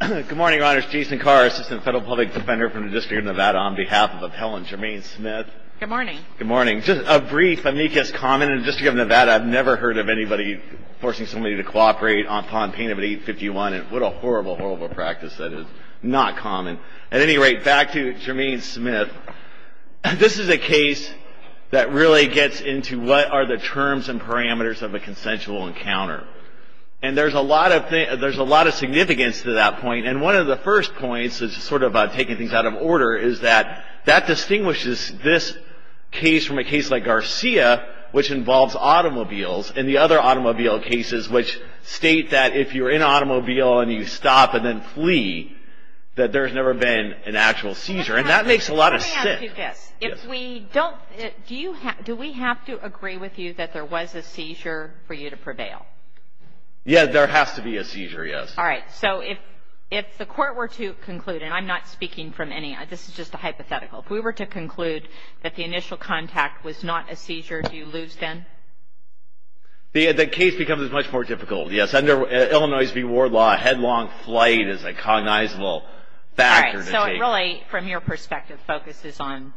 Good morning, Your Honors. Jason Carr, Assistant Federal Public Defender from the District of Nevada, on behalf of Appellant Jermaine Smith. Good morning. Good morning. Just a brief amicus comment. In the District of Nevada, I've never heard of anybody forcing somebody to cooperate upon pain of an 851. And what a horrible, horrible practice that is. Not common. At any rate, back to Jermaine Smith. This is a case that really gets into what are the terms and parameters of a consensual encounter. And there's a lot of significance to that point. And one of the first points is sort of taking things out of order, is that that distinguishes this case from a case like Garcia, which involves automobiles, and the other automobile cases, which state that if you're in an automobile and you stop and then flee, that there's never been an actual seizure. And that makes a lot of sense. If we don't, do we have to agree with you that there was a seizure for you to prevail? Yeah, there has to be a seizure, yes. All right. So if the court were to conclude, and I'm not speaking from any, this is just a hypothetical, if we were to conclude that the initial contact was not a seizure, do you lose then? The case becomes much more difficult, yes. Under Illinois v. Ward law, a headlong flight is a cognizable factor. All right. So it really, from your perspective, focuses on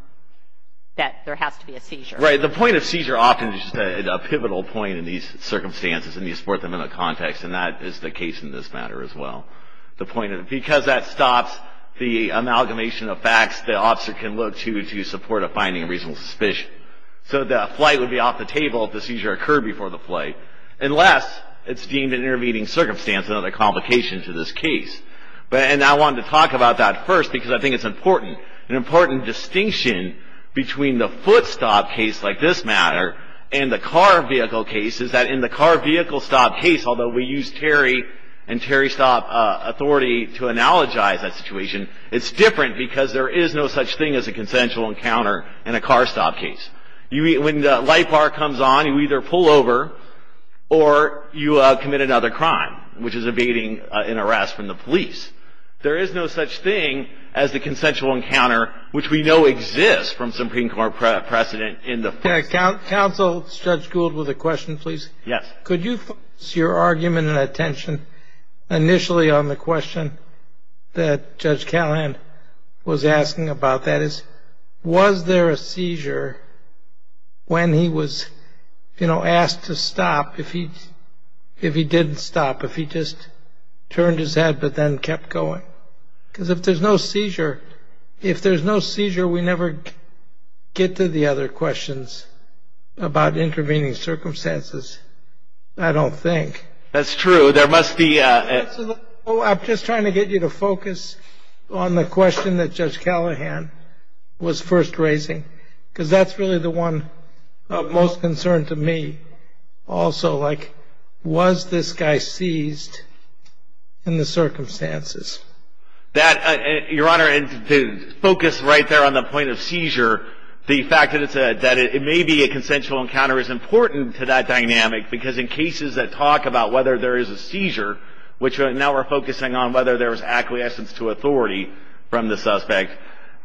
that there has to be a seizure. Right. The point of seizure often is just a pivotal point in these circumstances, and you support them in a context, and that is the case in this matter as well. Because that stops the amalgamation of facts, the officer can look to support a finding of reasonable suspicion. So the flight would be off the table if the seizure occurred before the flight, unless it's deemed an intervening circumstance, another complication to this case. And I wanted to talk about that first because I think it's important. An important distinction between the foot stop case, like this matter, and the car vehicle case is that in the car vehicle stop case, although we use Terry and Terry stop authority to analogize that situation, it's different because there is no such thing as a consensual encounter in a car stop case. When the light bar comes on, you either pull over or you commit another crime, which is evading an arrest from the police. There is no such thing as the consensual encounter, which we know exists from Supreme Court precedent in the first place. Counsel, Judge Gould, with a question, please. Yes. Could you focus your argument and attention initially on the question that Judge Callahan was asking about, that is, was there a seizure when he was, you know, asked to stop? If he didn't stop, if he just turned his head but then kept going? Because if there's no seizure, if there's no seizure we never get to the other questions about intervening circumstances, I don't think. That's true. I'm just trying to get you to focus on the question that Judge Callahan was first raising because that's really the one of most concern to me also, like, was this guy seized in the circumstances? Your Honor, to focus right there on the point of seizure, the fact that it may be a consensual encounter is important to that dynamic because in cases that talk about whether there is a seizure, which now we're focusing on whether there was acquiescence to authority from the suspect,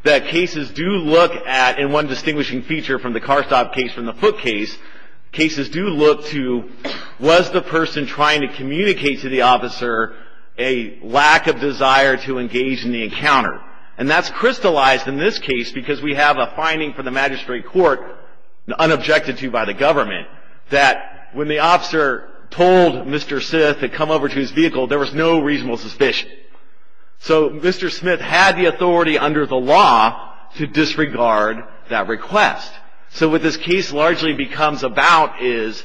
that cases do look at, in one distinguishing feature from the car stop case from the foot case, cases do look to was the person trying to communicate to the officer a lack of desire to engage in the encounter? And that's crystallized in this case because we have a finding from the magistrate court, unobjected to by the government, that when the officer told Mr. Syth to come over to his vehicle there was no reasonable suspicion. So Mr. Smith had the authority under the law to disregard that request. So what this case largely becomes about is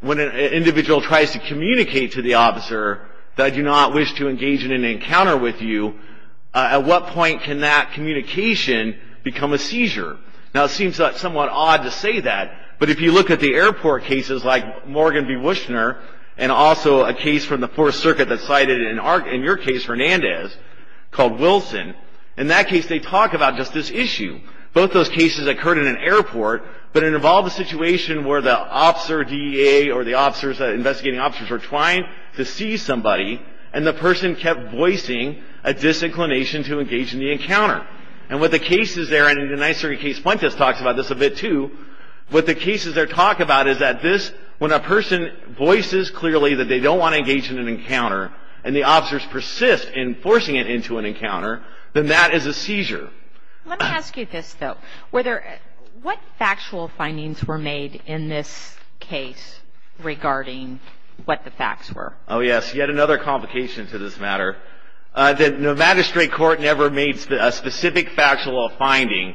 when an individual tries to communicate to the officer that I do not wish to engage in an encounter with you, at what point can that communication become a seizure? Now it seems somewhat odd to say that, but if you look at the airport cases like Morgan v. Wushner and also a case from the Fourth Circuit that cited in your case, Hernandez, called Wilson, in that case they talk about just this issue. Both those cases occurred in an airport, but it involved a situation where the officer DEA or the investigating officers were trying to seize somebody and the person kept voicing a disinclination to engage in the encounter. And what the cases there, and in the Ninth Circuit case Fuentes talks about this a bit too, what the cases there talk about is that this, when a person voices clearly that they don't want to engage in an encounter and the officers persist in forcing it into an encounter, then that is a seizure. Let me ask you this though. What factual findings were made in this case regarding what the facts were? Oh yes, yet another complication to this matter. The magistrate court never made a specific factual finding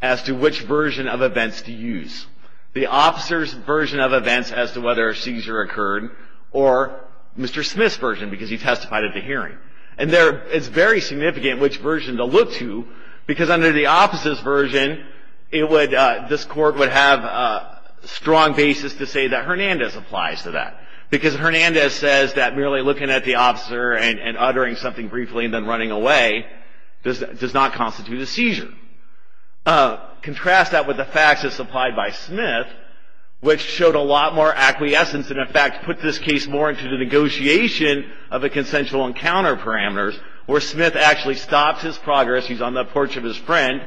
as to which version of events to use. The officer's version of events as to whether a seizure occurred or Mr. Smith's version because he testified at the hearing. And it's very significant which version to look to because under the officer's version, this court would have a strong basis to say that Hernandez applies to that because Hernandez says that merely looking at the officer and uttering something briefly and then running away does not constitute a seizure. Contrast that with the facts as supplied by Smith which showed a lot more acquiescence and in fact put this case more into the negotiation of a consensual encounter parameters where Smith actually stops his progress, he's on the porch of his friend,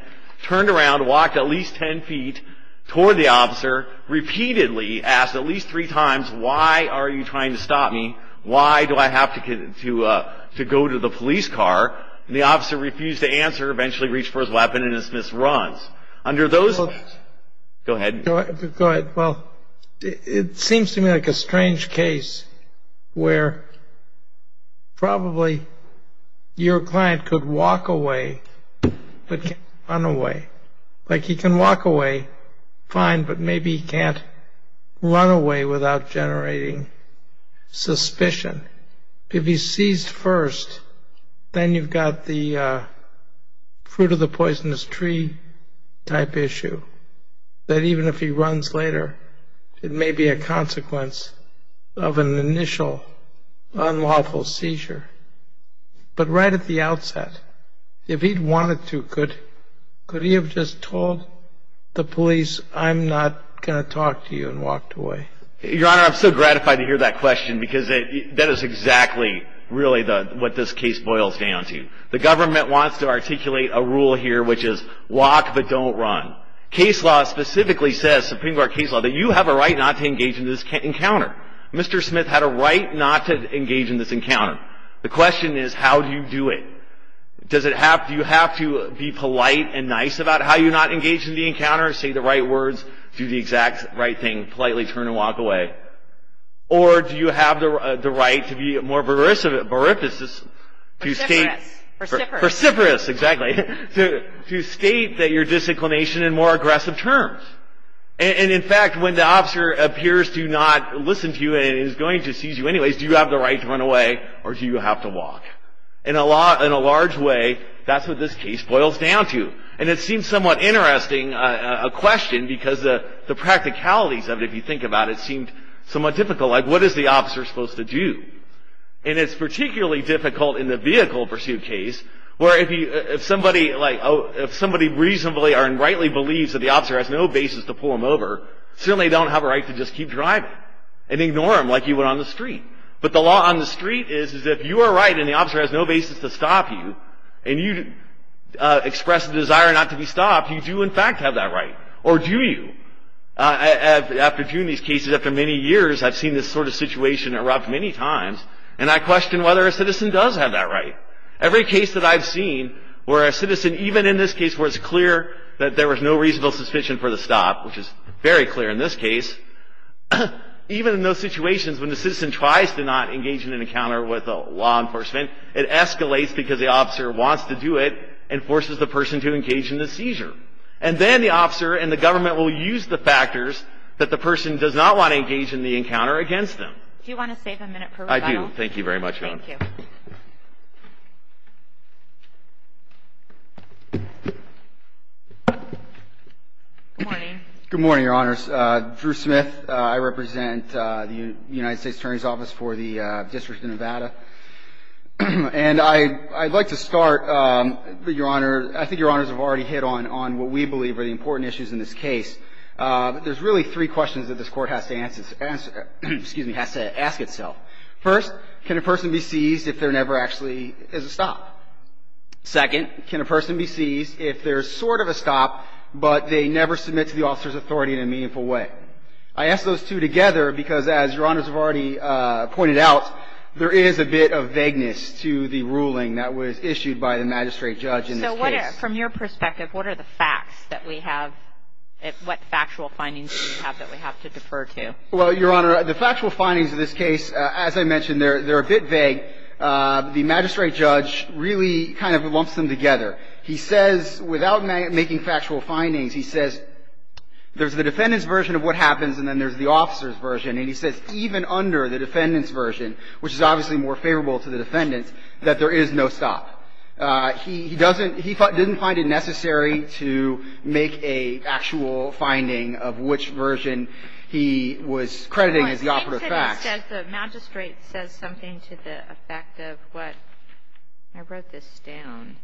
repeatedly asked at least three times, why are you trying to stop me? Why do I have to go to the police car? And the officer refused to answer, eventually reached for his weapon and then Smith runs. Under those... Go ahead. Go ahead. Well, it seems to me like a strange case where probably your client could walk away but can't run away. Like he can walk away fine but maybe he can't run away without generating suspicion. If he's seized first, then you've got the fruit of the poisonous tree type issue that even if he runs later, it may be a consequence of an initial unlawful seizure. But right at the outset, if he'd wanted to, could he have just told the police I'm not going to talk to you and walked away? Your Honor, I'm so gratified to hear that question because that is exactly really what this case boils down to. The government wants to articulate a rule here which is walk but don't run. Case law specifically says, Supreme Court case law, that you have a right not to engage in this encounter. Mr. Smith had a right not to engage in this encounter. The question is how do you do it? Do you have to be polite and nice about how you're not engaged in the encounter, say the right words, do the exact right thing, politely turn and walk away? Or do you have the right to be more veris... Perseverance. Perseverance, exactly. To state that you're disinclination in more aggressive terms. And in fact, when the officer appears to not listen to you and is going to seize you anyways, do you have the right to run away or do you have to walk? In a large way, that's what this case boils down to. And it seems somewhat interesting, a question, because the practicalities of it, if you think about it, seemed somewhat difficult. Like what is the officer supposed to do? And it's particularly difficult in the vehicle pursuit case where if somebody reasonably or rightly believes that the officer has no basis to pull him over, certainly they don't have a right to just keep driving and ignore him like you would on the street. But the law on the street is if you are right and the officer has no basis to stop you and you express a desire not to be stopped, you do in fact have that right. Or do you? After doing these cases after many years, I've seen this sort of situation erupt many times and I question whether a citizen does have that right. Every case that I've seen where a citizen, even in this case where it's clear that there was no reasonable suspicion for the stop, which is very clear in this case, even in those situations when the citizen tries to not engage in an encounter with law enforcement, it escalates because the officer wants to do it and forces the person to engage in the seizure. And then the officer and the government will use the factors that the person does not want to engage in the encounter against them. Do you want to save a minute for rebuttal? I do. Thank you very much. Thank you. Good morning. Good morning, Your Honors. Drew Smith. I represent the United States Attorney's Office for the District of Nevada. And I'd like to start, Your Honor, I think Your Honors have already hit on what we believe are the important issues in this case. But there's really three questions that this Court has to ask itself. First, can a person be seized if there never actually is a stop? Second, can a person be seized if there's sort of a stop, but they never submit to the officer's authority in a meaningful way? I ask those two together because, as Your Honors have already pointed out, there is a bit of vagueness to the ruling that was issued by the magistrate judge in this case. So what are, from your perspective, what are the facts that we have, what factual findings do we have that we have to defer to? Well, Your Honor, the factual findings of this case, as I mentioned, they're a bit vague. The magistrate judge really kind of lumps them together. He says, without making factual findings, he says there's the defendant's version of what happens and then there's the officer's version. And he says even under the defendant's version, which is obviously more favorable to the defendant, that there is no stop. He doesn't, he didn't find it necessary to make an actual finding of which version he was crediting as the operative facts. The magistrate says something to the effect of what, I wrote this down.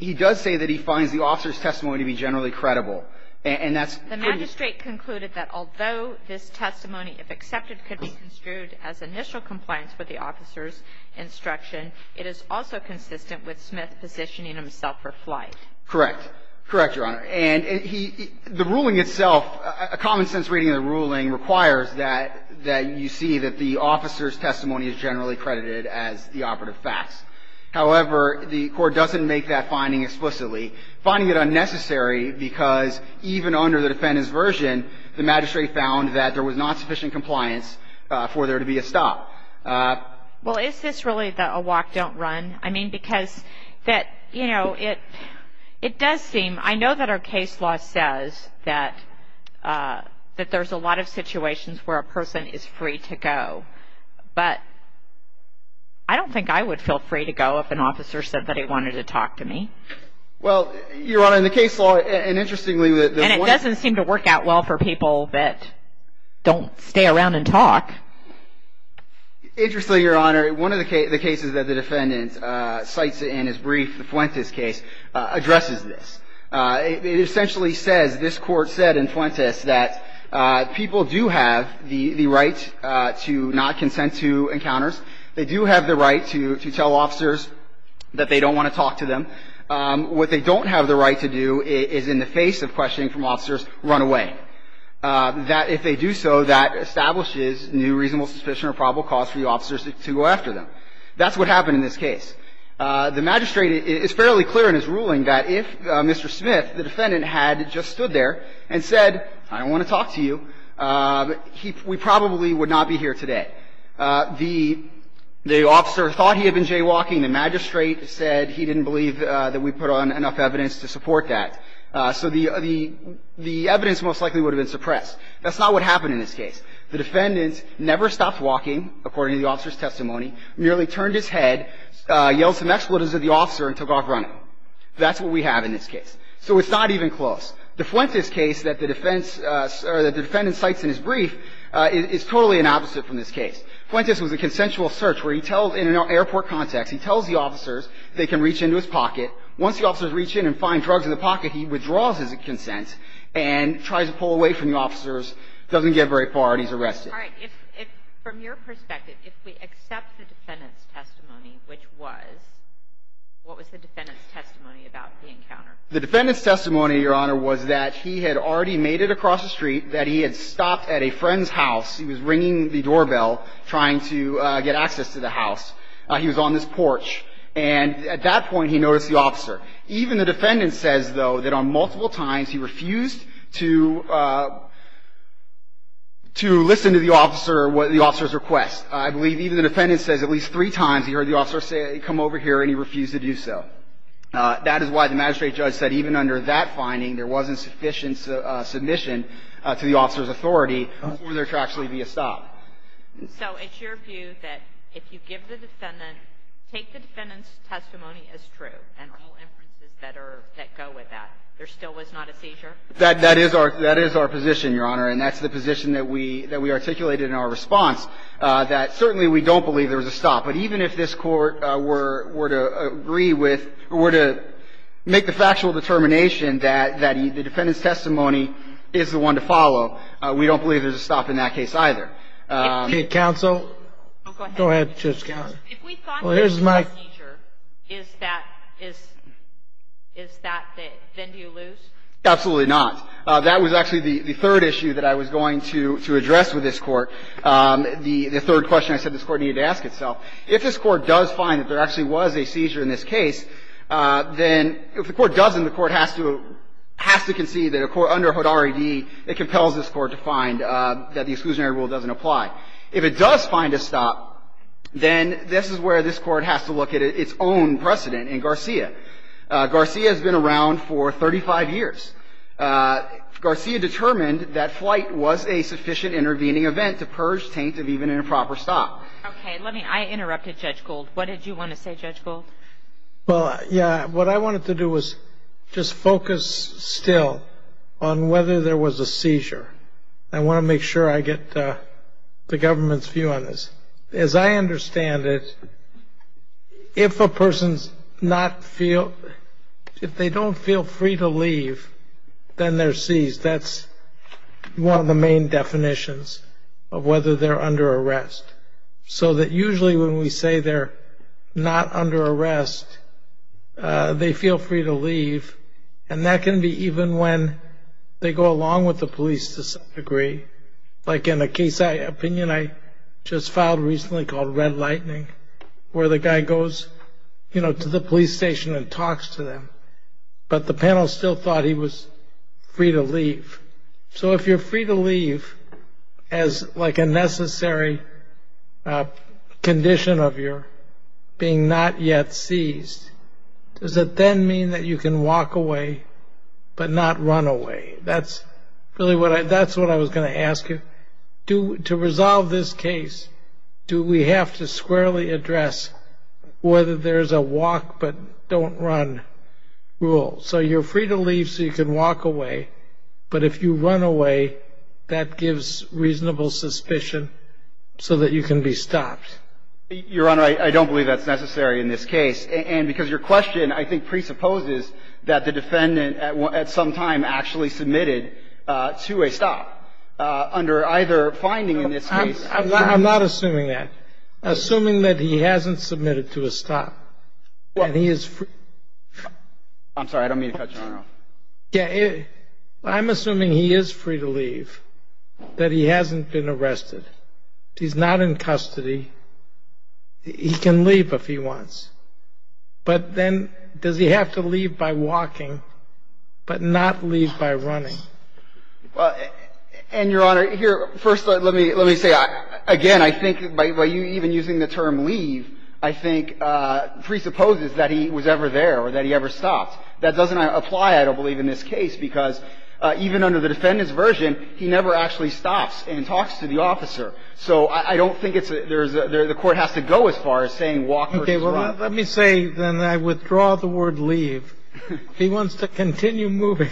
He does say that he finds the officer's testimony to be generally credible. The magistrate concluded that although this testimony, if accepted, could be construed as initial compliance with the officer's instruction, it is also consistent with Smith positioning himself for flight. Correct. Correct, Your Honor. And he, the ruling itself, a common sense reading of the ruling requires that, that you see that the officer's testimony is generally credited as the operative facts. However, the court doesn't make that finding explicitly. Finding it unnecessary because even under the defendant's version, the magistrate found that there was not sufficient compliance for there to be a stop. Well, is this really a walk, don't run? I mean, because that, you know, it, it does seem, I know that our case law says that, that there's a lot of situations where a person is free to go. But I don't think I would feel free to go if an officer said that he wanted to talk to me. Well, Your Honor, in the case law, and interestingly, the one. And it doesn't seem to work out well for people that don't stay around and talk. Interestingly, Your Honor, one of the cases that the defendant cites in his brief, the Fuentes case, addresses this. It essentially says, this court said in Fuentes that people do have the, the right to not consent to encounters. They do have the right to, to tell officers that they don't want to talk to them. What they don't have the right to do is, in the face of questioning from officers, run away. That, if they do so, that establishes new reasonable suspicion or probable cause for the officers to go after them. That's what happened in this case. The magistrate, it's fairly clear in his ruling that if Mr. Smith, the defendant, had just stood there and said, I don't want to talk to you, he, we probably would not be here today. The, the officer thought he had been jaywalking. The magistrate said he didn't believe that we put on enough evidence to support that. So the, the, the evidence most likely would have been suppressed. That's not what happened in this case. The defendant never stopped walking, according to the officer's testimony, merely turned his head, yelled some expletives at the officer, and took off running. That's what we have in this case. So it's not even close. The Fuentes case that the defense, or that the defendant cites in his brief, is totally an opposite from this case. Fuentes was a consensual search where he tells, in an airport context, he tells the officers they can reach into his pocket. Once the officers reach in and find drugs in the pocket, he withdraws his consent and tries to pull away from the officers, doesn't get very far, and he's arrested. All right. If, if, from your perspective, if we accept the defendant's testimony, which was, what was the defendant's testimony about the encounter? The defendant's testimony, Your Honor, was that he had already made it across the street, that he had stopped at a friend's house. He was ringing the doorbell, trying to get access to the house. He was on this porch. And at that point, he noticed the officer. Even the defendant says, though, that on multiple times, he refused to, to listen to the officer, the officer's request. I believe even the defendant says at least three times he heard the officer say, come over here, and he refused to do so. That is why the magistrate judge said even under that finding, there wasn't sufficient submission to the officer's authority for there to actually be a stop. So it's your view that if you give the defendant, take the defendant's testimony as true, and all inferences that are, that go with that, there still was not a seizure? That, that is our, that is our position, Your Honor, and that's the position that we, that we articulated in our response, that certainly we don't believe there was a stop. But even if this Court were, were to agree with, were to make the factual determination that, that the defendant's testimony is the one to follow, we don't believe there's a stop in that case either. If the counsel, go ahead, Justice Kennedy. If we thought there was a seizure, is that, is, is that the, then do you lose? Absolutely not. That was actually the, the third issue that I was going to, to address with this Court. The, the third question I said this Court needed to ask itself. If this Court does find that there actually was a seizure in this case, then if the Court doesn't, the Court has to, has to concede that a court under Hood R.E.D., it compels this Court to find that the exclusionary rule doesn't apply. If it does find a stop, then this is where this Court has to look at its own precedent in Garcia. Garcia has been around for 35 years. Garcia determined that flight was a sufficient intervening event to purge taint of even an improper stop. Okay. Let me, I interrupted Judge Gold. What did you want to say, Judge Gold? Well, yeah. What I wanted to do was just focus still on whether there was a seizure. I want to make sure I get the government's view on this. As I understand it, if a person's not feel, if they don't feel free to leave, then they're seized. That's one of the main definitions of whether they're under arrest. So that usually when we say they're not under arrest, they feel free to leave. And that can be even when they go along with the police to some degree. Like in a case, an opinion I just filed recently called Red Lightning, where the guy goes, you know, to the police station and talks to them. But the panel still thought he was free to leave. So if you're free to leave as like a necessary condition of your being not yet seized, does it then mean that you can walk away but not run away? That's really what I, that's what I was going to ask you. To resolve this case, do we have to squarely address whether there's a walk but don't run rule? So you're free to leave so you can walk away. But if you run away, that gives reasonable suspicion so that you can be stopped. Your Honor, I don't believe that's necessary in this case. And because your question I think presupposes that the defendant at some time actually submitted to a stop. Under either finding in this case. I'm not assuming that. Assuming that he hasn't submitted to a stop. I'm sorry, I don't mean to cut you off. I'm assuming he is free to leave, that he hasn't been arrested. He's not in custody. He can leave if he wants. But then does he have to leave by walking but not leave by running? Well, and your Honor, here, first let me, let me say, again, I think by you even using the term leave, I think presupposes that he was ever there or that he ever stopped. That doesn't apply, I don't believe, in this case because even under the defendant's version, he never actually stops and talks to the officer. So I don't think it's a, there's a, the court has to go as far as saying walk or run. Okay. Well, let me say, then I withdraw the word leave. He wants to continue moving.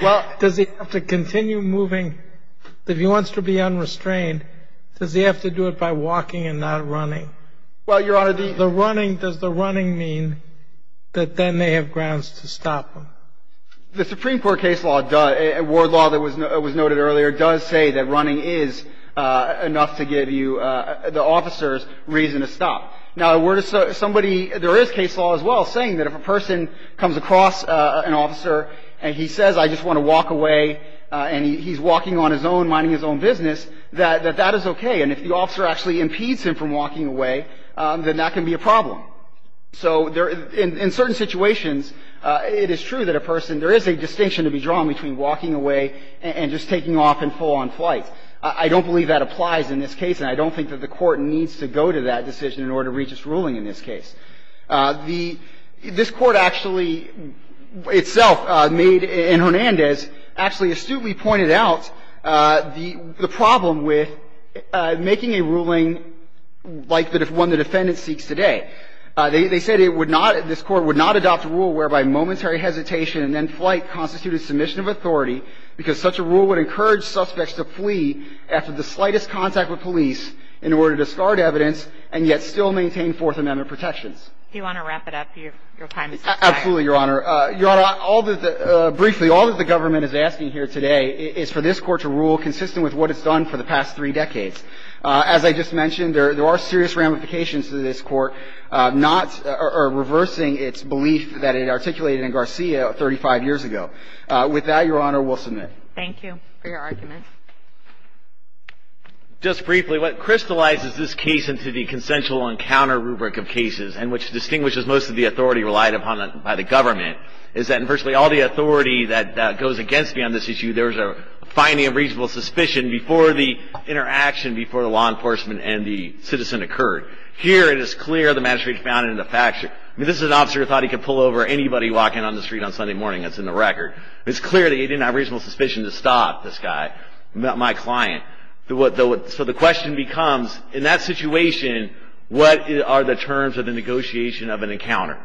Well. Does he have to continue moving? If he wants to be unrestrained, does he have to do it by walking and not running? Well, your Honor, the. The running, does the running mean that then they have grounds to stop him? The Supreme Court case law does, a ward law that was noted earlier, does say that running is enough to give you, the officer's reason to stop. Now, the word is somebody, there is case law as well saying that if a person comes across an officer and he says I just want to walk away and he's walking on his own, minding his own business, that that is okay. And if the officer actually impedes him from walking away, then that can be a problem. So in certain situations, it is true that a person, there is a distinction to be drawn between walking away and just taking off in full on flight. I don't believe that applies in this case, and I don't think that the court needs to go to that decision in order to reach its ruling in this case. The, this Court actually itself made, in Hernandez, actually astutely pointed out the problem with making a ruling like the one the defendant seeks today. They said it would not, this Court would not adopt a rule whereby momentary hesitation and then flight constituted submission of authority because such a rule would encourage suspects to flee after the slightest contact with police in order to discard evidence and yet still maintain Fourth Amendment protections. Do you want to wrap it up? Your time is up. Absolutely, Your Honor. Your Honor, all the, briefly, all that the government is asking here today is for this Court to rule consistent with what it's done for the past three decades. As I just mentioned, there are serious ramifications to this Court not, or reversing its belief that it articulated in Garcia 35 years ago. With that, Your Honor, we'll submit. Thank you for your argument. Just briefly, what crystallizes this case into the consensual encounter rubric of cases, and which distinguishes most of the authority relied upon by the government, is that in virtually all the authority that goes against me on this issue, there was a finding of reasonable suspicion before the interaction, before the law enforcement and the citizen occurred. Here, it is clear the magistrate found it in the fact sheet. I mean, this is an officer who thought he could pull over anybody walking on the street on Sunday morning. That's in the record. It's clear that he didn't have reasonable suspicion to stop this guy. Not my client. So the question becomes, in that situation, what are the terms of the negotiation of an encounter?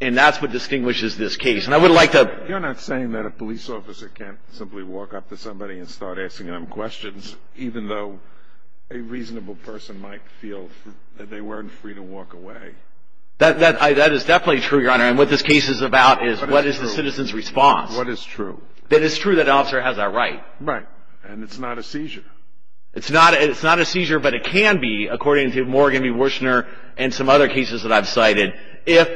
And that's what distinguishes this case. And I would like to... You're not saying that a police officer can't simply walk up to somebody and start asking them questions, even though a reasonable person might feel that they weren't free to walk away. That is definitely true, Your Honor. And what this case is about is what is the citizen's response. What is true? That it's true that the officer has that right. Right. And it's not a seizure. It's not a seizure, but it can be, according to Morgan B. Wushner and some other cases that I've cited. If,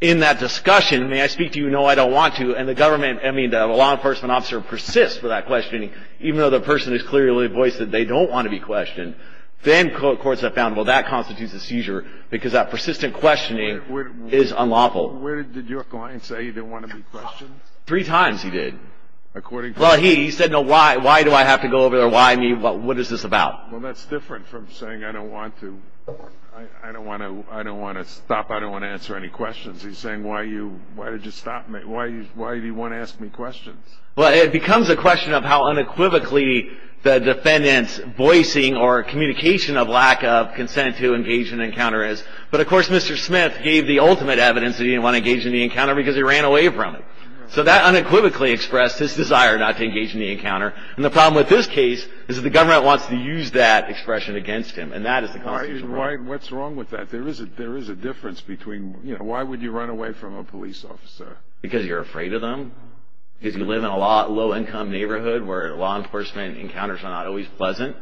in that discussion, may I speak to you? No, I don't want to. And the government, I mean, the law enforcement officer persists with that questioning, even though the person has clearly voiced that they don't want to be questioned. Then courts have found, well, that constitutes a seizure, because that persistent questioning is unlawful. Where did your client say he didn't want to be questioned? Three times he did. According to... Well, he said, no, why? Why do I have to go over there? Why me? What is this about? Well, that's different from saying, I don't want to. I don't want to stop. I don't want to answer any questions. He's saying, why did you stop me? Why do you want to ask me questions? Well, it becomes a question of how unequivocally the defendant's voicing or communication of lack of consent to engage in an encounter is. But, of course, Mr. Smith gave the ultimate evidence that he didn't want to engage in the encounter, because he ran away from it. So that unequivocally expressed his desire not to engage in the encounter. And the problem with this case is that the government wants to use that expression against him. And that is the constitutional right. What's wrong with that? There is a difference between, you know, why would you run away from a police officer? Because you're afraid of them. Because you live in a low-income neighborhood where law enforcement encounters are not always pleasant.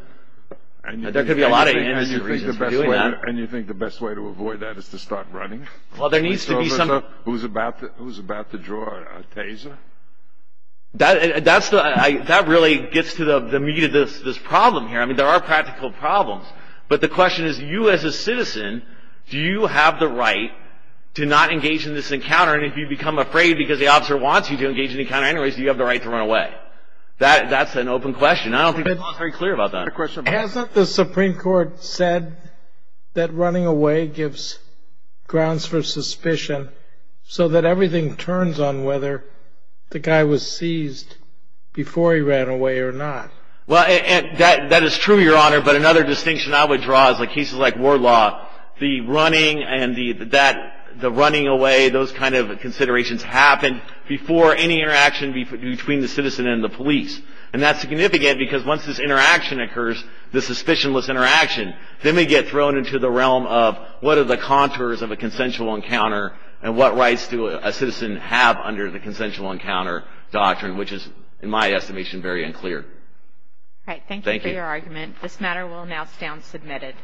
There could be a lot of reasons for doing that. And you think the best way to avoid that is to start running? Well, there needs to be some... Who's about to draw a taser? That really gets to the meat of this problem here. I mean, there are practical problems. But the question is, you as a citizen, do you have the right to not engage in this encounter? And if you become afraid because the officer wants you to engage in the encounter, anyways, do you have the right to run away? That's an open question. I don't think people are very clear about that. Hasn't the Supreme Court said that running away gives grounds for suspicion so that everything turns on whether the guy was seized before he ran away or not? Well, that is true, Your Honor. But another distinction I would draw is in cases like war law, the running and the running away, those kind of considerations happen before any interaction between the citizen and the police. And that's significant because once this interaction occurs, this suspicionless interaction, then we get thrown into the realm of what are the rights and what rights do a citizen have under the consensual encounter doctrine, which is, in my estimation, very unclear. All right. Thank you for your argument. This matter will now stand submitted.